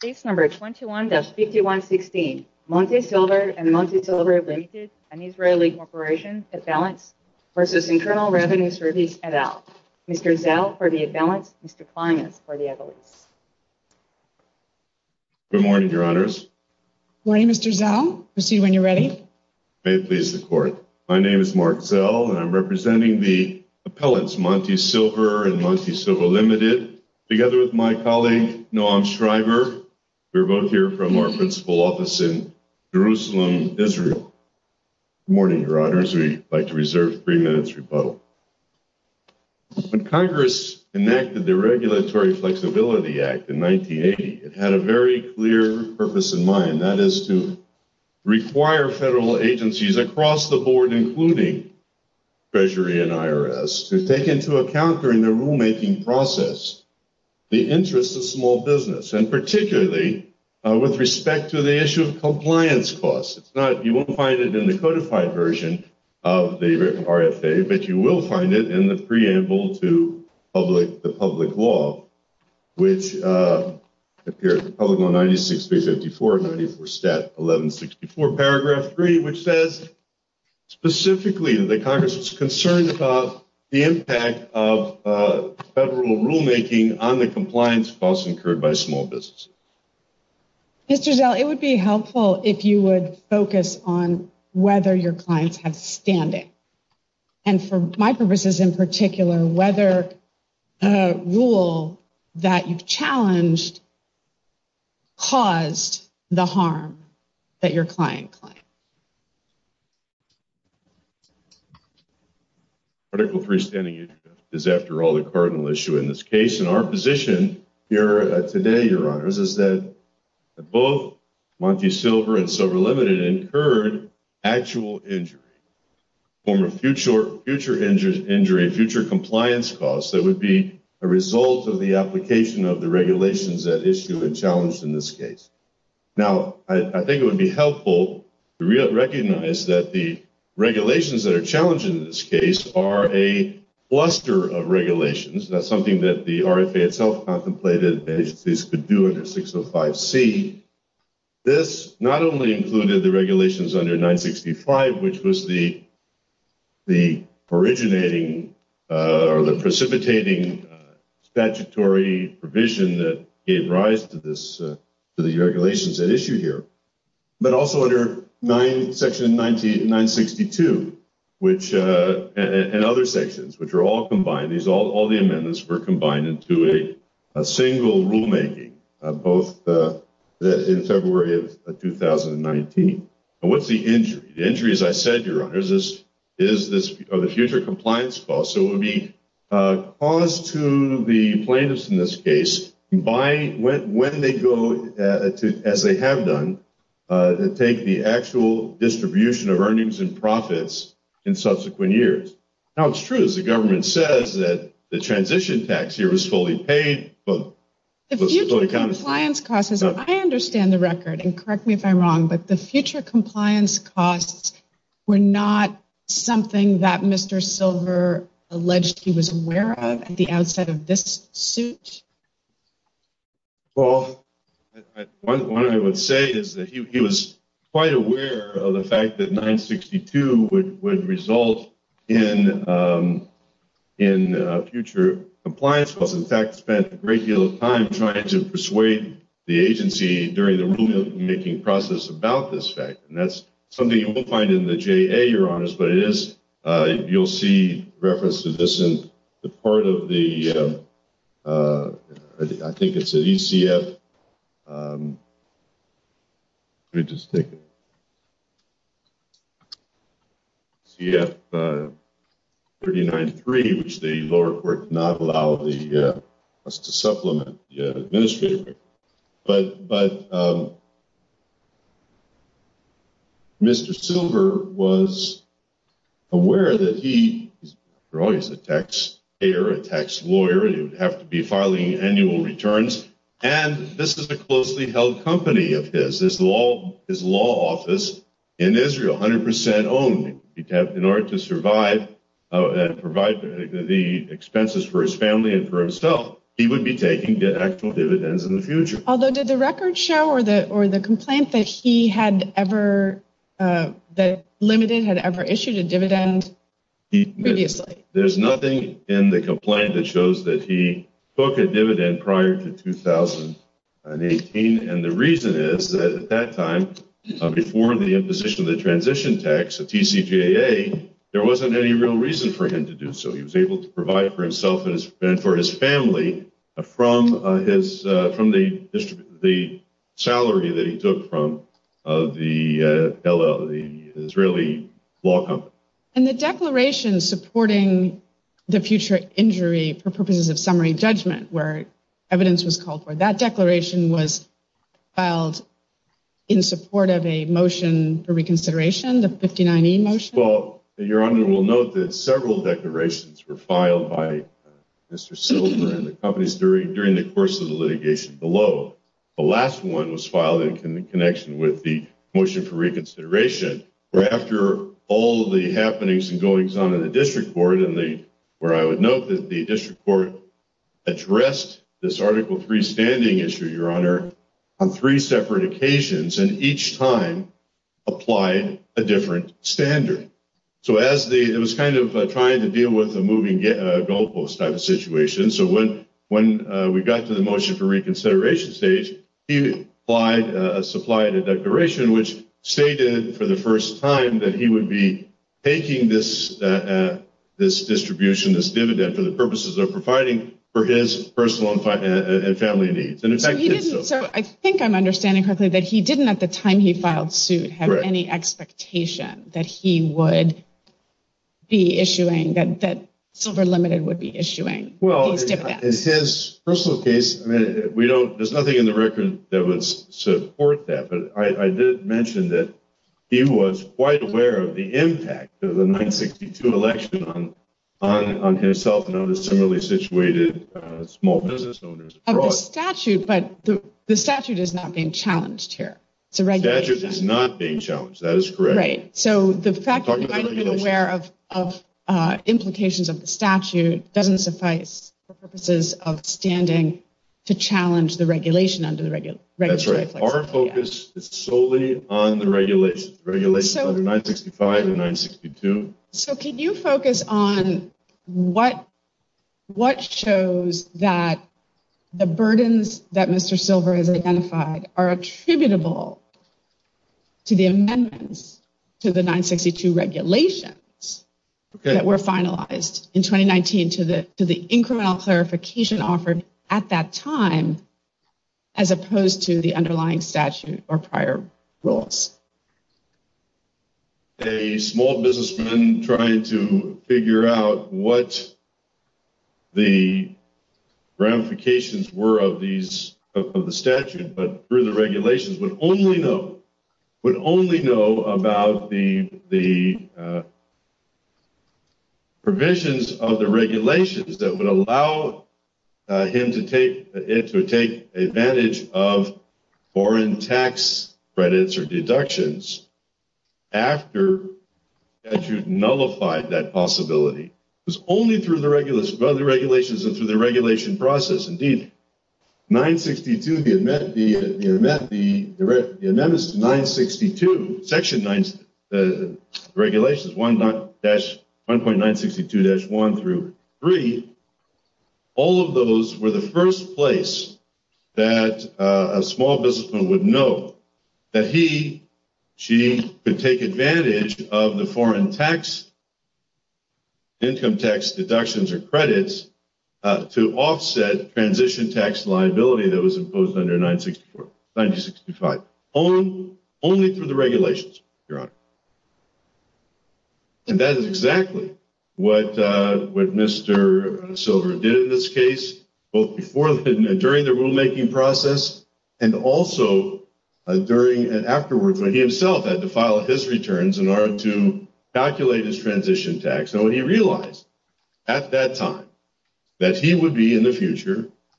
Case number 21-5116, Monty Silver and Monty Silver Limited, an Israeli corporation, at balance, versus Internal Revenues Service, et al. Mr. Zell for the at balance, Mr. Klimas for the at lease. Good morning, your honors. Good morning, Mr. Zell. Proceed when you're ready. May it please the court. My name is Mark Zell and I'm representing the appellants Monty Silver Limited, together with my colleague, Noam Shriver. We're both here from our principal office in Jerusalem, Israel. Good morning, your honors. We'd like to reserve three minutes' rebuttal. When Congress enacted the Regulatory Flexibility Act in 1980, it had a very clear purpose in mind, and that is to require federal agencies across the board, including Treasury and IRS, to take into account during the rulemaking process the interests of small business, and particularly with respect to the issue of compliance costs. You won't find it in the codified version of the RFA, but you will find it in the preamble to the public law, which appears in public law 96354, 94 stat 1164 paragraph 3, which says specifically that the Congress was concerned about the impact of federal rulemaking on the compliance costs incurred by small businesses. Mr. Zell, it would be helpful if you would focus on whether your challenge caused the harm that your client claimed. Particle 3 standing is, after all, the cardinal issue in this case, and our position here today, your honors, is that both Monty Silver and Silver Limited incurred actual injury, former future injury, future compliance costs that would be a result of the application of regulations that issue a challenge in this case. Now, I think it would be helpful to recognize that the regulations that are challenged in this case are a cluster of regulations. That's something that the RFA itself contemplated agencies could do under 605C. This not only included the regulations under 965, which was the precipitating statutory provision that gave rise to the regulations at issue here, but also under section 962 and other sections, which are all combined. All the amendments were combined into a single rulemaking, both in February of 2019. What's the injury? The injury, as I said, your honors, is the future compliance cost. It would be caused to the plaintiffs in this case when they go, as they have done, to take the actual distribution of earnings and profits in subsequent years. Now, it's true, as the government says, that the transition tax here was fully paid. The future compliance cost, I understand the record, and correct me if I'm wrong, but the future compliance costs were not something that Mr. Silver alleged he was aware of at the outset of this suit? Well, what I would say is that he was quite aware of the fact that 962 would result in future compliance costs. In fact, he spent a great deal of time trying to persuade the agency during the rulemaking process about this fact, and that's something you will find in the JA, your honors, but it is, you'll see reference to this in the part of the, I think it's an ECF, let me just take it, CF-39-3, which the lower court did not allow us to supplement the administrator, but Mr. Silver was aware that he, after all, he's a tax payer, a tax lawyer, he would have to be filing annual returns, and this is a closely held company of his, his law office in Israel, 100% owned. In order to survive and provide the expenses for his family and for himself, he would be taking actual dividends in the future. Although, did the record show or the complaint that he had ever, that Limited had ever issued a dividend previously? There's nothing in the complaint that shows that he took a dividend prior to 2018, and the reason is that at that time, before the imposition of the transition tax, the TCJA, there wasn't any real reason for him to do so. He was able to provide for himself and for his family from his, from the salary that he took from the Israeli law company. And the declaration supporting the future injury for purposes of summary judgment, where evidence was called for, that declaration was filed in support of a motion for reconsideration, the 59E motion? Well, Your Honor, we'll note that several declarations were filed by Mr. Silver and the companies during, during the course of the litigation below. The last one was going on in the district court and the, where I would note that the district court addressed this Article III standing issue, Your Honor, on three separate occasions, and each time applied a different standard. So as the, it was kind of trying to deal with a moving goalpost type of situation. So when, when we got to the motion for reconsideration stage, he applied a supply and a declaration, which stated for the first time that he would be making this distribution, this dividend for the purposes of providing for his personal and family needs. And in fact, he did so. So I think I'm understanding correctly that he didn't, at the time he filed suit, have any expectation that he would be issuing, that Silver Limited would be issuing these dividends. Well, in his personal case, I mean, we don't, there's nothing in the record that would support that, but I did mention that he was quite aware of the impact of the 1962 election on himself and other similarly situated small business owners. Of the statute, but the statute is not being challenged here. It's a regulation. The statute is not being challenged. That is correct. Right. So the fact that he might have been aware of, of implications of the statute doesn't suffice for purposes of standing to challenge the regulation under the regulation. Our focus is solely on the regulation under 965 and 962. So can you focus on what shows that the burdens that Mr. Silver has identified are attributable to the amendments to the 962 regulations that were finalized in 2019 to the incremental clarification offered at that time, as opposed to the underlying statute or prior rules? A small businessman trying to figure out what the ramifications were of these, of the statute, but through the regulations, would only know, would only know about the, the provisions of the regulations that would allow him to take it, to take advantage of foreign tax credits or deductions after the statute nullified that possibility. It was only through the regulations and through the regulation process. Indeed, 962, the amendments to 962, section 9, the regulations, 1.962-1 through 3, all of those were the first place that a small businessman would know that he, she could take advantage of the foreign tax, income tax deductions or credits to offset transition tax liability that was imposed under 964, 965, only through the regulations, Your Honor. And that is exactly what Mr. Silver did in this case, both before, during the rulemaking process and also during and afterwards when he himself had to file his returns in order to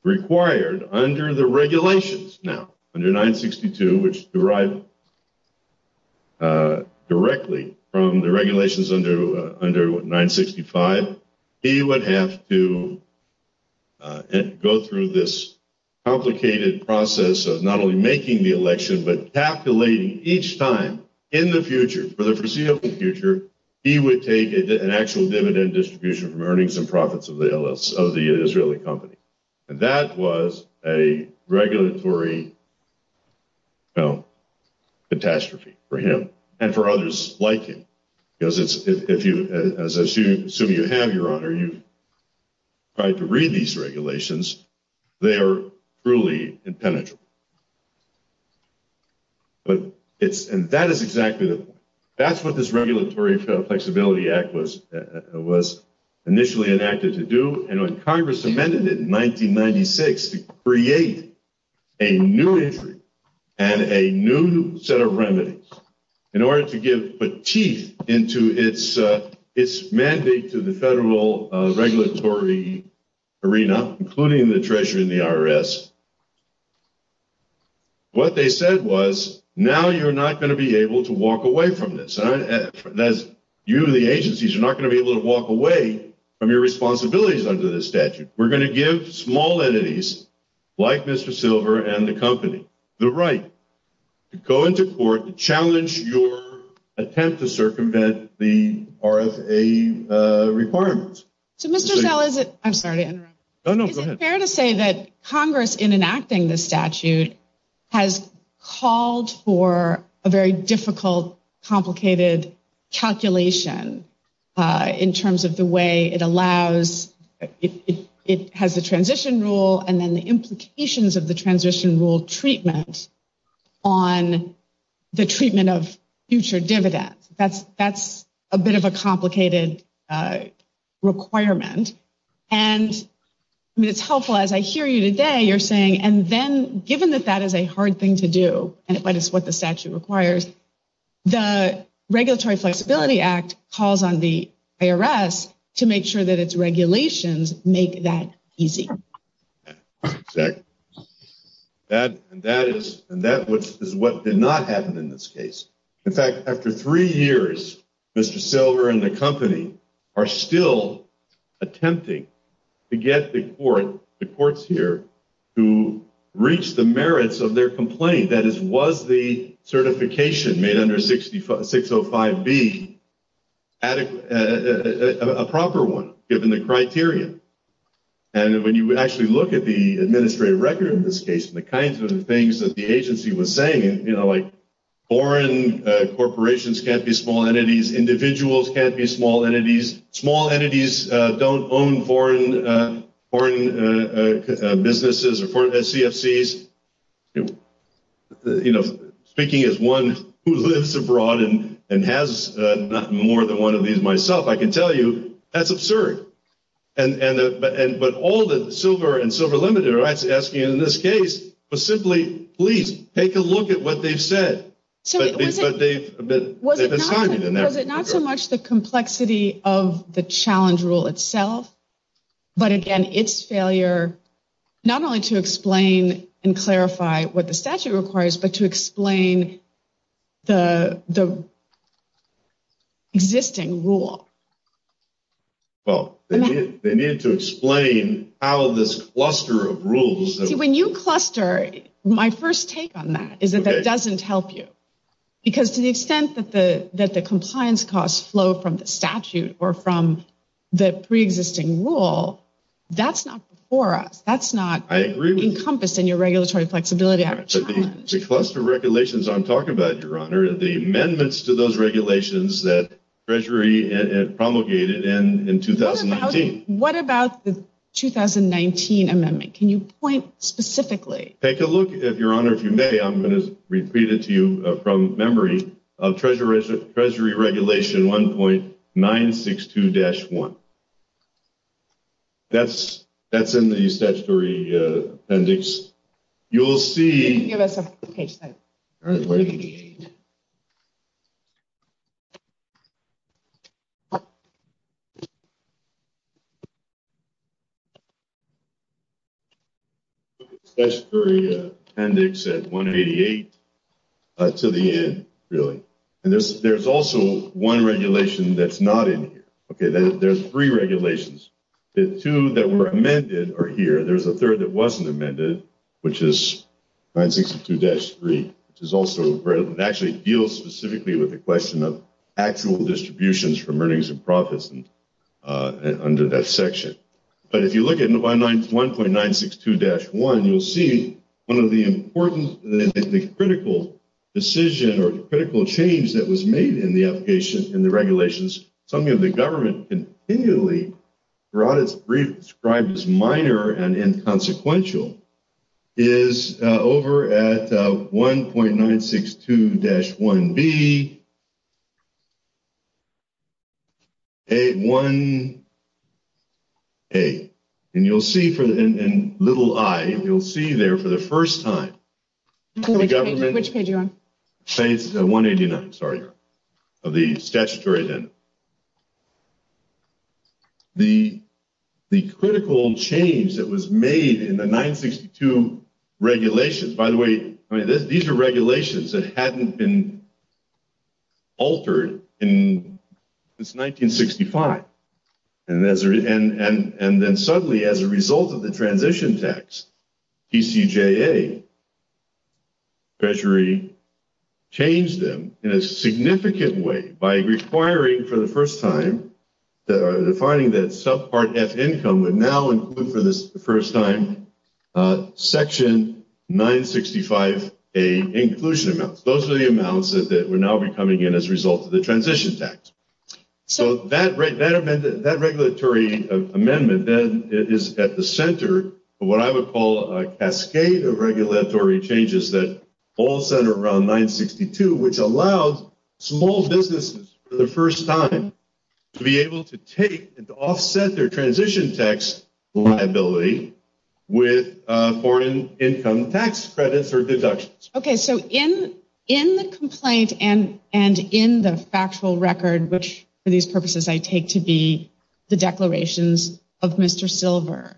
require under the regulations. Now, under 962, which derived directly from the regulations under, under 965, he would have to go through this complicated process of not only making the election, but calculating each time in the future, for the foreseeable future, he would take an actual dividend distribution from some profits of the Israeli company. And that was a regulatory, you know, catastrophe for him and for others like him. Because it's, if you, as soon as you have, Your Honor, you've tried to read these regulations, they are truly impenetrable. But it's, and that is exactly the point. That's what this Regulatory Flexibility Act was, was initially enacted to do. And when Congress amended it in 1996 to create a new entry and a new set of remedies in order to give petite into its, its mandate to the federal regulatory arena, including the Treasury and the IRS. What they said was, now you're not going to be able to walk away from your responsibilities under this statute. We're going to give small entities, like Mr. Silver and the company, the right to go into court to challenge your attempt to circumvent the RFA requirements. So, Mr. Zell, is it, I'm sorry to interrupt. No, no, go ahead. Is it fair to say that Congress in enacting this statute has called for a very difficult, complicated calculation in terms of the way it allows, it has the transition rule and then the implications of the transition rule treatment on the treatment of future dividends. That's, that's a bit of a complicated requirement. And I mean, it's helpful as I hear you today, you're saying, and then given that that is a hard thing to do, but it's what the statute requires, the Regulatory Flexibility Act calls on the IRS to make sure that its regulations make that easy. Exactly. And that is, and that is what did not happen in this case. In fact, after three years, Mr. Silver and the company are still attempting to get the court, the courts here, to reach the merits of their complaint. That is, was the certification made under 605B adequate, a proper one, given the criteria. And when you actually look at the administrative record in this case, the kinds of things that the agency was saying, you know, like foreign corporations can't be small entities, individuals can't be small entities, small businesses, CFCs, you know, speaking as one who lives abroad and has more than one of these myself, I can tell you that's absurd. And, but all that Silver and Silver Limited are asking in this case was simply, please take a look at what they've said. Was it not so much the complexity of the existing rule? Well, they needed to explain how this cluster of rules. See, when you cluster, my first take on that is that that doesn't help you. Because to the extent that the compliance costs flow from the statute or from the pre-existing rule, that's not before us. That's not encompassed in your regulatory flexibility. The cluster of regulations I'm talking about, Your Honor, are the amendments to those regulations that Treasury promulgated in 2019. What about the 2019 amendment? Can you point specifically? Take a look, Your Honor, if you may, I'm going to repeat it to you from memory of Treasury Regulation 1.962-1. That's in the appendix. You'll see... Give us a page sign. ...appendix at 188 to the end, really. And there's also one regulation that's not in here. Okay, there's three regulations. The two that were amended are here. There's a third that wasn't amended, which is 1.962-3, which is also... It actually deals specifically with the question of actual distributions from earnings and profits under that section. But if you look at 1.962-1, you'll see one of the important, the critical decision or critical change that was made in the regulations, something that the government continually described as minor and inconsequential, is over at 1.962-1B, A1A. And you'll see in little i, you'll see there for the first time... Which page are you on? Page 189, sorry, of the statutory agenda. The critical change that was made in the 1.962 regulations... By the way, I mean, these are regulations that hadn't been altered in... It's 1965. And then suddenly, as a result of the transition tax, TCJA, Treasury, changed them in a significant way by requiring, for the first time, defining that subpart F income would now include, for the first time, section 965A inclusion amounts. Those are the amounts that would now be coming in as a result of the transition tax. So that regulatory amendment, then, is at the center of what I would call a cascade of regulatory changes that all center around 1.962, which allows small businesses, for the first time, to be able to take and to offset their transition tax liability with foreign income tax credits or for these purposes, I take to be the declarations of Mr. Silver.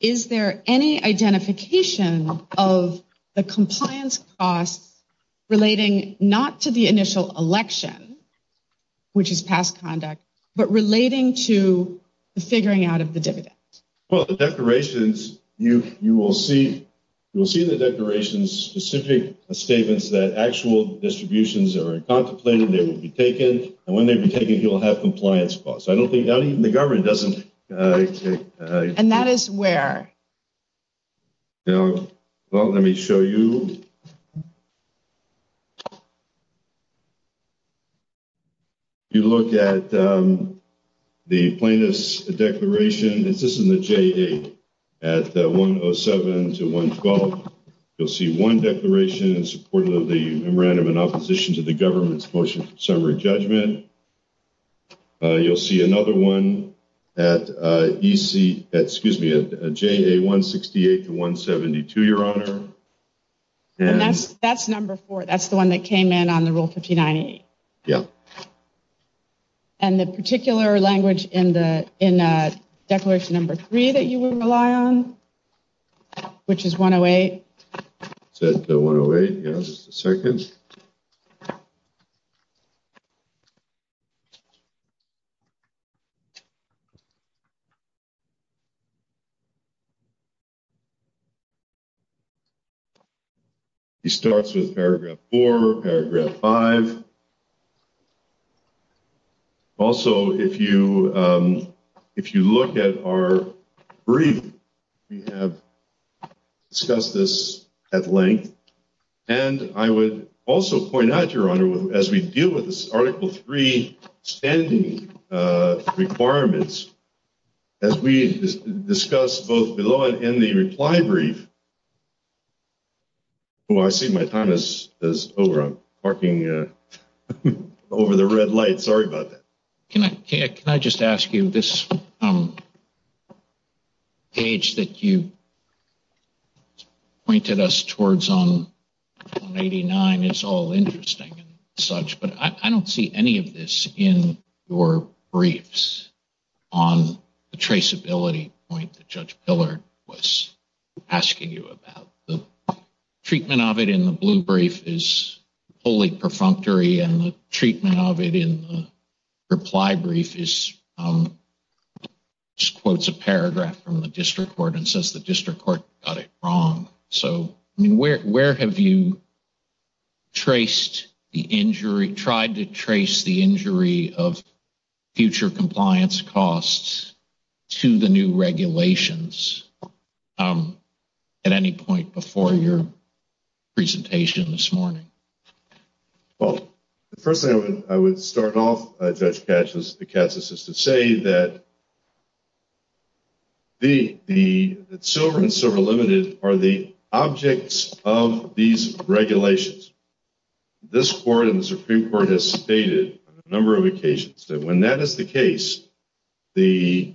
Is there any identification of the compliance costs relating not to the initial election, which is past conduct, but relating to the figuring out of the dividend? Well, the declarations, you will see the declarations specific statements that actual distributions are contemplated, they will be you'll have compliance costs. I don't think that even the government doesn't. And that is where? Now, well, let me show you. You look at the plaintiff's declaration, this is in the J8, at 107 to 112. You'll see one declaration in support of the memorandum in opposition to the government's motion summary judgment. You'll see another one at EC, excuse me, at J168 to 172, your honor. And that's number four. That's the one that came in on the rule 5098. Yeah. And the particular language in the in declaration number three that you would rely on, which is 108. Is that the 108? Yeah, just a second. Okay. He starts with paragraph four, paragraph five. Also, if you look at our brief, we have discussed this at length. And I would also point out, as we deal with this article three standing requirements, as we discuss both below and in the reply brief. Oh, I see my time is over. I'm parking over the red light. Sorry about that. Can I just ask you this page that you I don't see any of this in your briefs on the traceability point that Judge Pillard was asking you about. The treatment of it in the blue brief is wholly perfunctory and the treatment of it in the reply brief is just quotes a paragraph from the district court and says the district court got it wrong. So where have you traced the injury, tried to trace the injury of future compliance costs to the new regulations at any point before your presentation this morning? Well, the first thing I would start off, Judge Katz, is to say that the silver and silver limited are the objects of these regulations. This court and the Supreme Court has stated on a number of occasions that when that is the case, the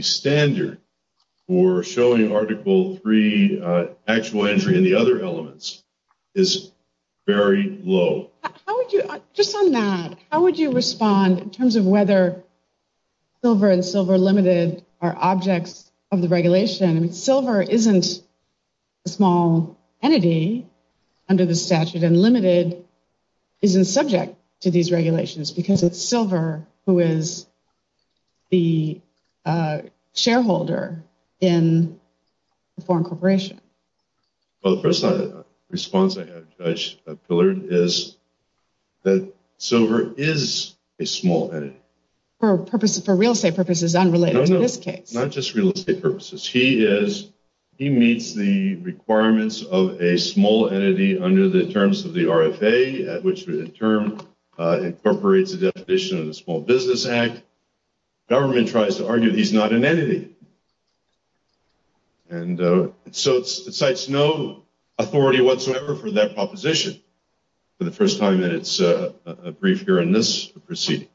standard for showing article three actual injury and the other elements is very low. Just on that, how would you respond in terms of whether silver and silver limited are objects of the regulation? Silver isn't a small entity under the statute and limited isn't subject to these regulations because it's a foreign corporation. Well, the first response I have, Judge Pillard, is that silver is a small entity. For purposes, for real estate purposes, unrelated to this case. Not just real estate purposes. He is, he meets the requirements of a small entity under the terms of the RFA, at which the term incorporates the definition of the Small Business Act. Government tries to argue he's not an entity. And so, it cites no authority whatsoever for that proposition for the first time in its brief here in this proceeding.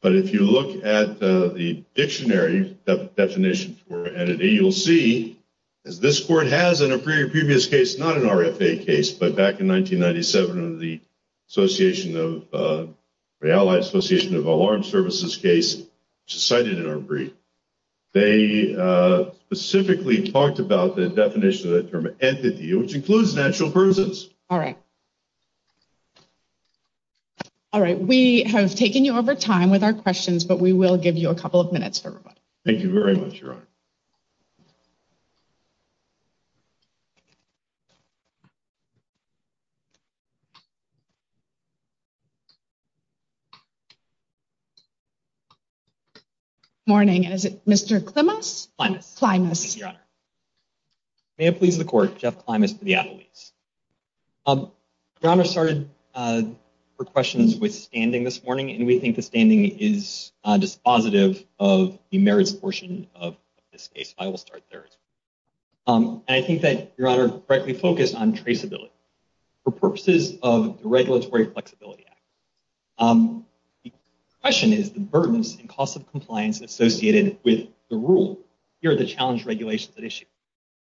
But if you look at the dictionary definition for entity, you'll see, as this court has in a previous case, not an RFA case, but back in 1997 under the Association of, or Allied Association of Alarm Services case, which is cited in our brief, they specifically talked about the definition of the term entity, which includes natural persons. All right. All right. We have taken you over time with our questions, but we will give you a couple of minutes for everybody. Thank you very much, Your Honor. Good morning. Is it Mr. Klimas? Klimas. Klimas. Thank you, Your Honor. May it please the court, Jeff Klimas for the attorneys. Your Honor started her questions with standing this morning, and we think the standing is dispositive of the merits portion of this case. I will start there. And I think that Your Honor correctly focused on traceability. For purposes of the Regulatory Flexibility Act, the question is the burdens and costs of compliance associated with the rule. Here are the challenge regulations at issue.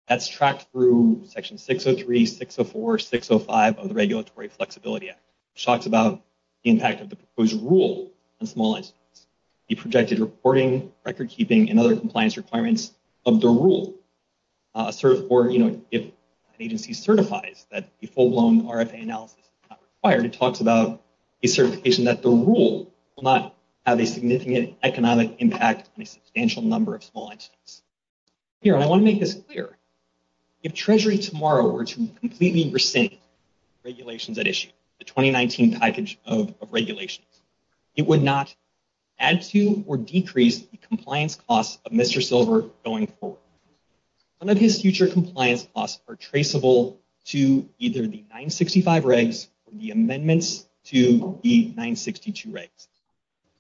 That's tracked through section 603, 604, 605 of the Regulatory Flexibility Act, which talks about the impact of proposed rule on small incidents, the projected reporting, record keeping, and other compliance requirements of the rule. If an agency certifies that a full-blown RFA analysis is not required, it talks about a certification that the rule will not have a significant economic impact on a substantial number of small incidents. Here, I want to make this clear. If Treasury tomorrow were completely rescind regulations at issue, the 2019 package of regulations, it would not add to or decrease the compliance costs of Mr. Silver going forward. None of his future compliance costs are traceable to either the 965 regs or the amendments to the 962 regs.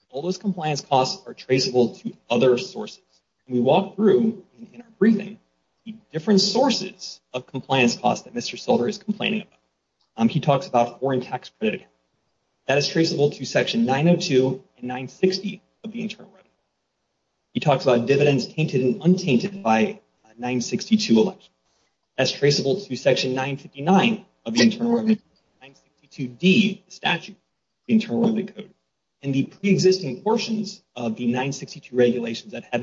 All those compliance costs are traceable to other sources. We walk through in our briefing the different sources of compliance costs that Mr. Silver is complaining about. He talks about foreign tax credit. That is traceable to section 902 and 960 of the Internal Revenue Code. He talks about dividends tainted and untainted by 962 election. That's traceable to section 959 of the Internal Revenue Code, 962D statute, the Internal Revenue Code, and the pre-existing portions of the 962 regulations that the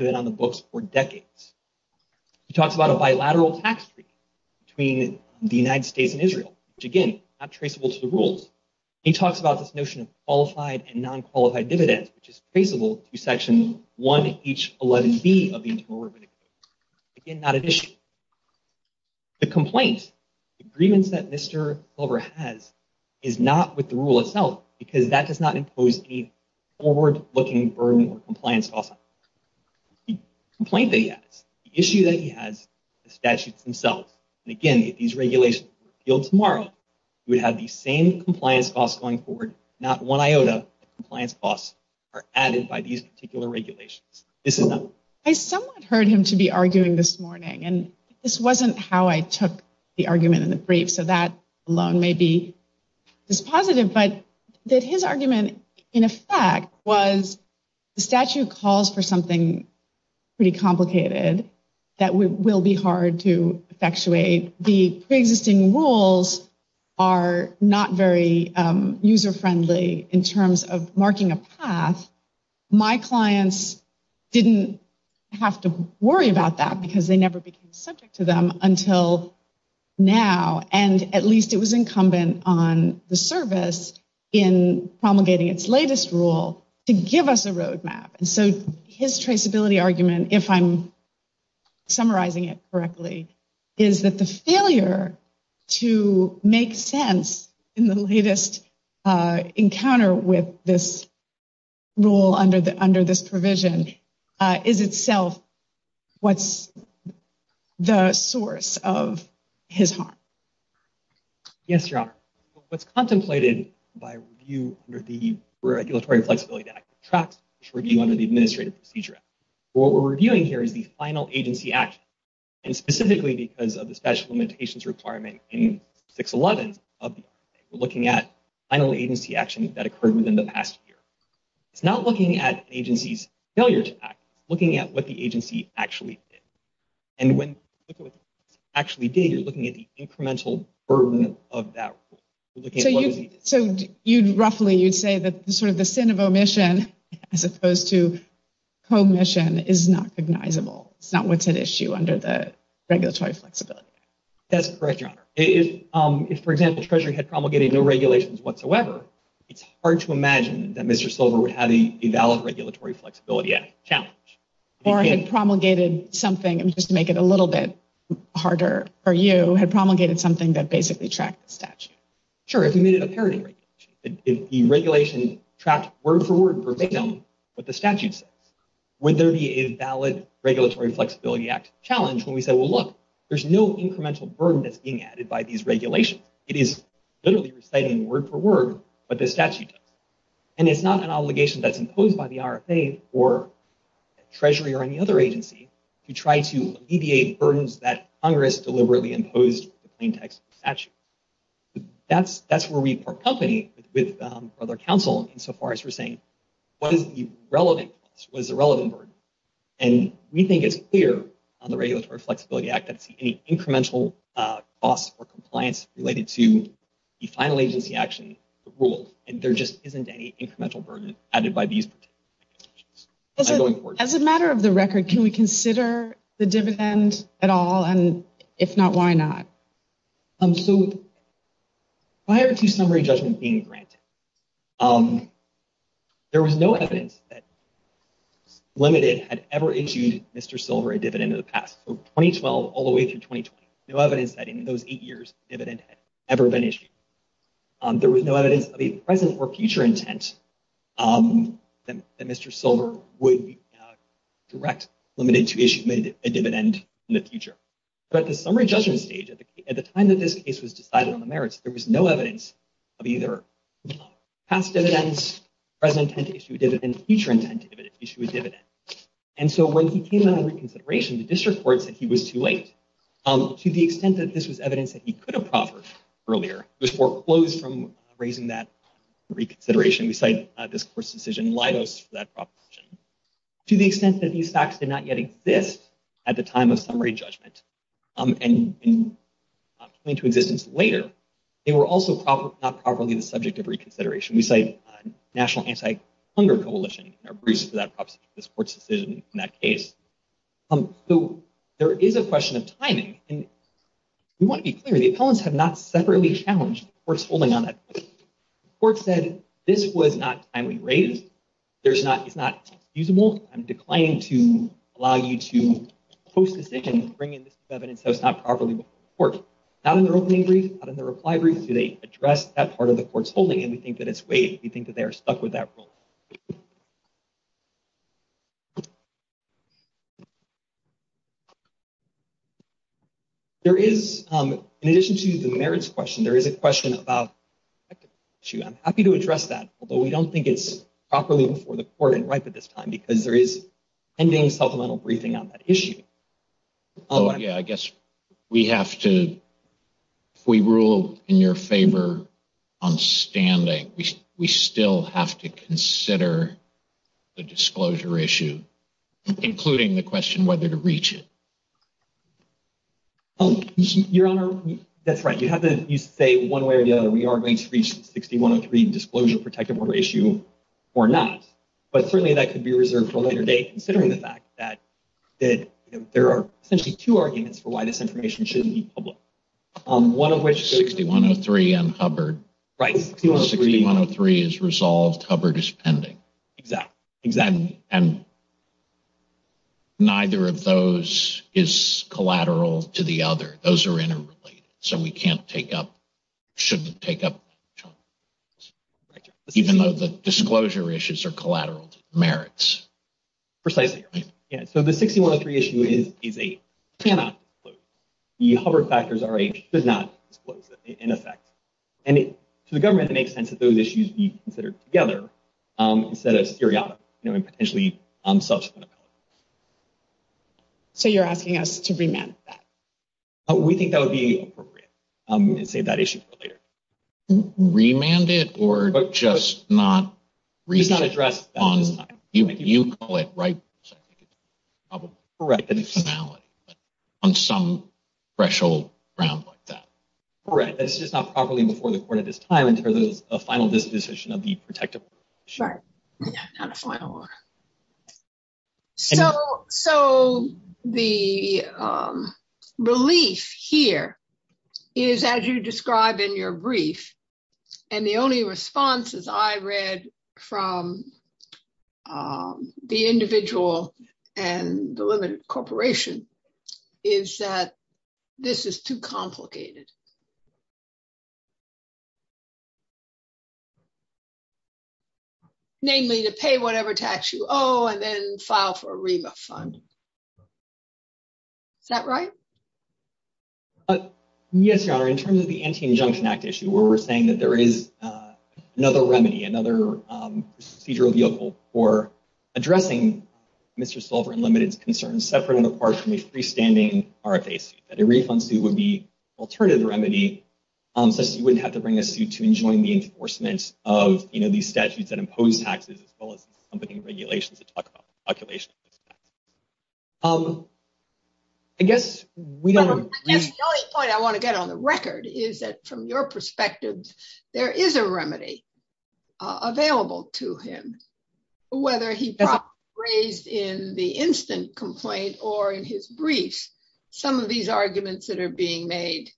United States and Israel, which again, not traceable to the rules. He talks about this notion of qualified and non-qualified dividends, which is traceable to section 1H11B of the Internal Revenue Code. Again, not at issue. The complaint agreements that Mr. Silver has is not with the rule itself because that does not impose a forward-looking burden on compliance costs. The complaint that he feels tomorrow would have the same compliance costs going forward. Not one iota of compliance costs are added by these particular regulations. This is not. I somewhat heard him to be arguing this morning, and this wasn't how I took the argument in the brief, so that alone may be dispositive, but that his argument, in effect, was the statute calls for something pretty different. The pre-existing rules are not very user-friendly in terms of marking a path. My clients didn't have to worry about that because they never became subject to them until now, and at least it was incumbent on the service in promulgating its latest rule to give us a roadmap. His traceability argument, if I'm summarizing it correctly, is that the failure to make sense in the latest encounter with this rule under this provision is itself what's the source of his harm. Yes, Your Honor. What's contemplated by review under the Regulatory Flexibility Act, which tracks review under the Administrative Procedure Act, what we're reviewing here is the final agency action, and specifically because of the special limitations requirement in 611 of the RFA, we're looking at final agency action that occurred within the past year. It's not looking at agency's failure to act. It's looking at what the agency actually did, and when you look at what the agency actually did, you're looking at the incremental burden of that rule. So, roughly, you'd say that sort of the sin of omission as opposed to commission is not cognizable. It's not what's at issue under the Regulatory Flexibility Act. That's correct, Your Honor. If, for example, Treasury had promulgated no regulations whatsoever, it's hard to imagine that Mr. Silver would have a valid Regulatory Flexibility Act challenge. Or had promulgated something, just to make it a little bit harder for you, had promulgated something that basically tracked the statute. Sure, if we made it a parody regulation, if the regulation tracked word for word for victim what the statute says, would there be a valid Regulatory Flexibility Act challenge when we say, well, look, there's no incremental burden that's being added by these regulations. It is literally reciting word for word what the statute does, and it's not an obligation that's imposed by the RFA or Treasury or any other agency to try to alleviate burdens that Congress deliberately imposed with the plain text of the statute. That's where we part company with other counsel insofar as we're saying, what is the relevant cost? What is the relevant burden? And we think it's clear on the Regulatory Flexibility Act that any incremental cost or compliance related to the final agency action, the rule, and there just isn't any incremental burden added by these particular regulations. As a matter of the record, can we consider the dividend at all? And if not, why not? So prior to summary judgment being granted, there was no evidence that limited had ever issued Mr. Silver a dividend in the past. So 2012 all the way through 2020, no evidence that in those eight years, a dividend had ever been issued. There was no evidence of a present or future intent that Mr. Silver would direct limited to issue a dividend in the future. But at the summary judgment stage, at the time that this case was decided on the merits, there was no evidence of either past dividends, present intent to issue a dividend, future intent to issue a dividend. And so when he came out of reconsideration, the district court said he was too late. To the extent that this was evidence that he could have proffered earlier, it was foreclosed from raising that reconsideration. We cite this court's decision in Leidos for that judgment. And coming to existence later, they were also not properly the subject of reconsideration. We cite National Anti-Hunger Coalition in our briefs for that court's decision in that case. So there is a question of timing. And we want to be clear, the appellants have not separately challenged the court's holding on that. The court said this was not timely raised. It's not excusable. I'm declining to allow you to post a decision and bring in this evidence that was not properly before the court. Not in their opening brief, not in their reply brief, do they address that part of the court's holding. And we think that it's waived. We think that they are stuck with that rule. In addition to the merits question, there is a question about the technical issue. I'm happy to address that, although we don't think it's properly before the court and ripe at this time, because there is pending supplemental briefing on that issue. Oh, yeah. I guess we have to, if we rule in your favor on standing, we still have to consider the disclosure issue, including the question whether to reach it. Your Honor, that's right. You have to, you say one way or the other, we are going to reach 6103 disclosure protective order issue or not. But certainly that could be reserved for a later date, considering the fact that there are essentially two arguments for why this information shouldn't be public. One of which- 6103 and Hubbard. Right. 6103 is resolved, Hubbard is pending. Exactly. And neither of those is collateral to the other. Those are interrelated. So we can't take up, shouldn't take up, even though the disclosure issues are collateral merits. Precisely. Yeah. So the 6103 issue is a cannot. The Hubbard factors are a should not disclose in effect. And to the government, it makes sense that those issues be considered together. Instead of seriatim, you know, and potentially subsequent appellate. So you're asking us to remand that? We think that would be appropriate. And save that issue for later. Remand it or just not- It's not addressed on this time. You call it, right? Correct. On some threshold round like that. Correct. It's just not properly before the court at this time until there's a final decision of the protective. Right. Not a final one. So the relief here is, as you describe in your brief, and the only responses I read from the individual and the limited corporation, is that this is too complicated. Namely, to pay whatever tax you owe and then file for a REMA fund. Is that right? Yes, Your Honor. In terms of the Anti-Injunction Act issue, where we're saying that there is another remedy, another procedural vehicle for addressing Mr. Sullivan Limited's concerns, separate and apart from a freestanding RFA suit. That a refund suit would be an alternative remedy, such that you wouldn't have to bring a suit to enjoin the enforcement of these statutes that impose taxes, as well as some of the regulations that talk about calculation of those taxes. I guess we don't- I guess the only point I want to get on the record is that from your perspective, there is a remedy available to him. Whether he brought raised in the instant complaint or in his brief, some of these arguments that are being made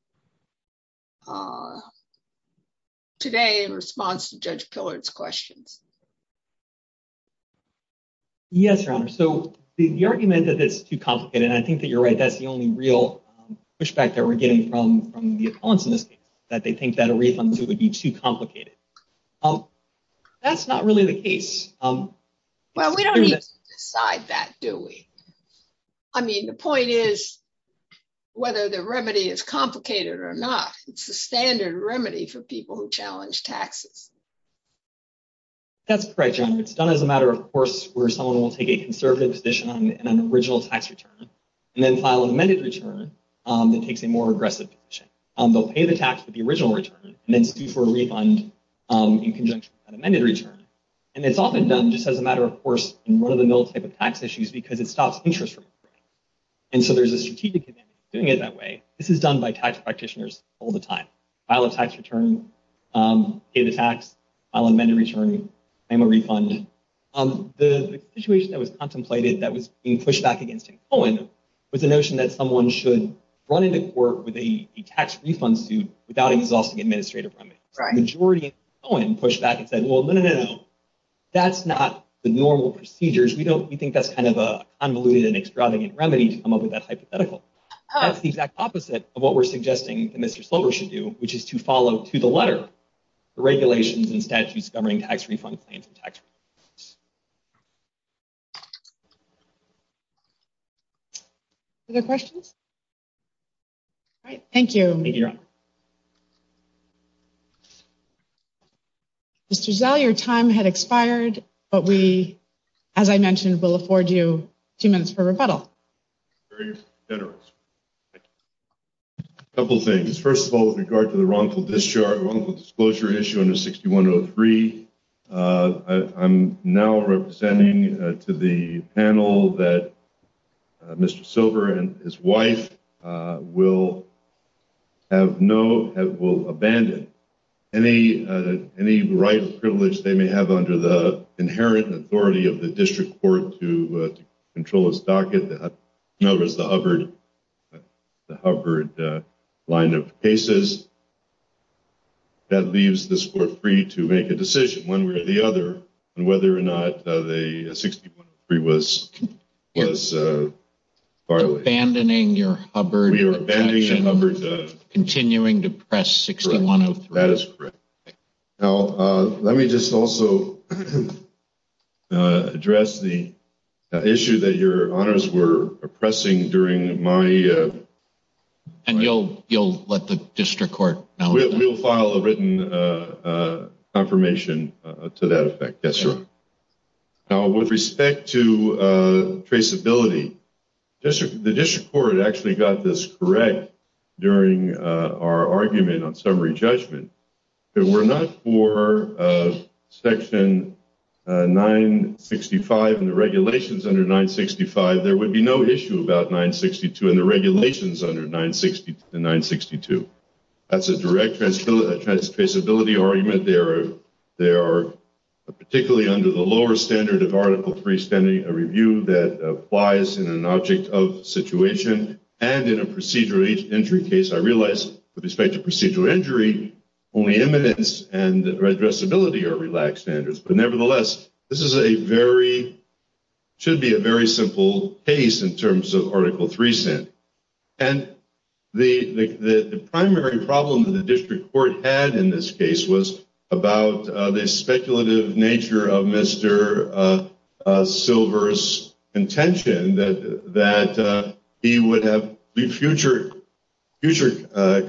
today in response to Judge Pillard's questions. Yes, Your Honor. The argument that it's too complicated, and I think that you're right, that's the only real pushback that we're getting from the opponents in this case, that they think that a refund suit would be too complicated. That's not really the case. Well, we don't need to decide that, do we? I mean, the point is, whether the remedy is complicated or not, it's the standard remedy for people who challenge taxes. That's correct, Your Honor. It's done as a matter of course, where someone will take a conservative position on an original tax return, and then file an amended return that takes a more aggressive position. They'll pay the tax for the original return, and then sue for a refund in conjunction with that amended return. And it's often done just as a matter of course, in one of the middle type of tax issues, because it stops interest from breaking. And so there's a strategic advantage to doing it that way. This is done by tax practitioners all the time. File a tax return, pay the tax, file an amended return, claim a refund. The situation that was contemplated, that was being pushed back against in Cohen, was the notion that someone should run into court with a tax refund suit without exhausting administrative remedies. The majority in Cohen pushed back and said, well, no, no, no, that's not the normal procedures. We think that's kind of a convoluted and extravagant remedy to come up with that hypothetical. That's the exact opposite of what we're suggesting that Mr. Slover should do, which is to follow to the letter the regulations and statutes governing tax refund claims and tax returns. Other questions? All right, thank you. Thank you, Your Honor. Mr. Zell, your time had expired, but we, as I mentioned, will afford you two minutes for rebuttal. A couple of things. First of all, with regard to the wrongful discharge, wrongful disclosure issue under 6103, I'm now representing to the panel that Mr. Slover and his wife will have no, will abandon any right or privilege they may have under the inherent authority of the district court to control his docket, in other words, the Hubbard line of cases. That leaves this court free to make a decision one way or the other on whether or not 6103 was filed. Abandoning your Hubbard objection, continuing to press 6103. That is correct. Now, let me just also address the issue that your honors were pressing during my... And you'll let the district court... We'll file a written confirmation to that effect. That's right. Now, with respect to traceability, the district court actually got this correct during our argument on summary judgment. We're not for section 965 and the regulations under 965. There would be no issue about 962 and the regulations under 962. That's a direct traceability argument. They are particularly under the lower standard of Article 3 standing, a review that applies in an object of situation and in a procedural injury case. I realize with respect to procedural injury, only eminence and addressability are relaxed standards. But nevertheless, this is a very, should be a very recent. And the primary problem that the district court had in this case was about the speculative nature of Mr. Silver's intention that he would have future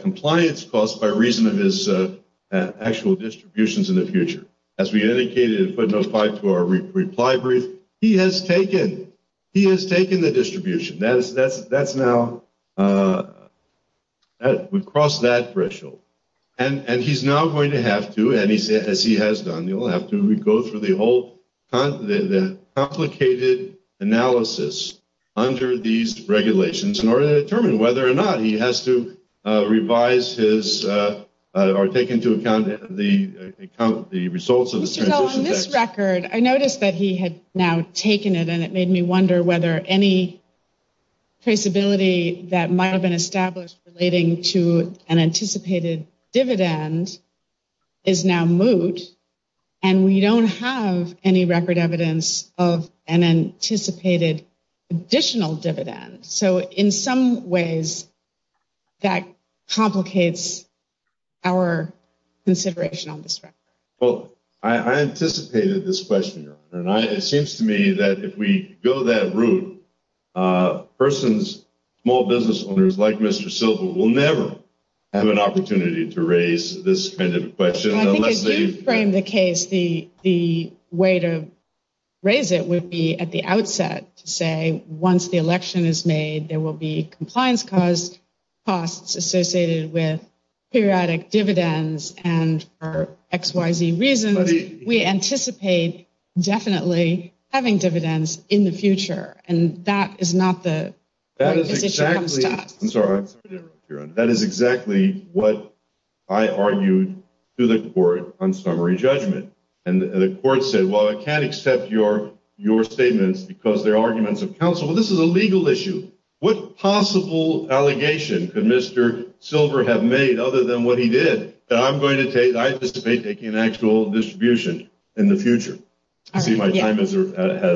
compliance costs by reason of his actual distributions in the future. As we indicated in footnote 5 to our reply brief, he has taken the distribution. That's now... We've crossed that threshold. And he's now going to have to, and as he has done, he'll have to go through the whole complicated analysis under these regulations in order to determine whether or not he has to revise his or take into account the results of the transition. On this record, I noticed that he had now taken it and it made me wonder whether any traceability that might have been established relating to an anticipated dividend is now moot and we don't have any record evidence of an anticipated additional dividend. So in some ways that complicates our consideration on this record. Well, I anticipated this question, Your Honor, and it seems to me that if we go that route, a person's small business owners like Mr. Silver will never have an opportunity to raise this kind of question unless they... I think as you frame the case, the way to raise it would be at the outset to say once the election is made, there will be compliance costs associated with periodic dividends and for X, Y, Z reasons, we anticipate definitely having dividends in the future. And that is not the... I'm sorry, Your Honor. That is exactly what I argued to the court on summary judgment. And the court said, well, I can't accept your statements because they're arguments of counsel. This is a legal issue. What possible allegation could Mr. Silver have made other than what he did that I anticipate taking an actual distribution in the future? I see my time has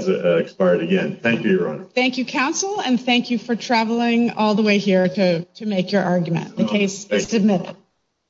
expired again. Thank you, Your Honor. Thank you, counsel. And thank you for traveling all the way here to make your argument. The case is submitted.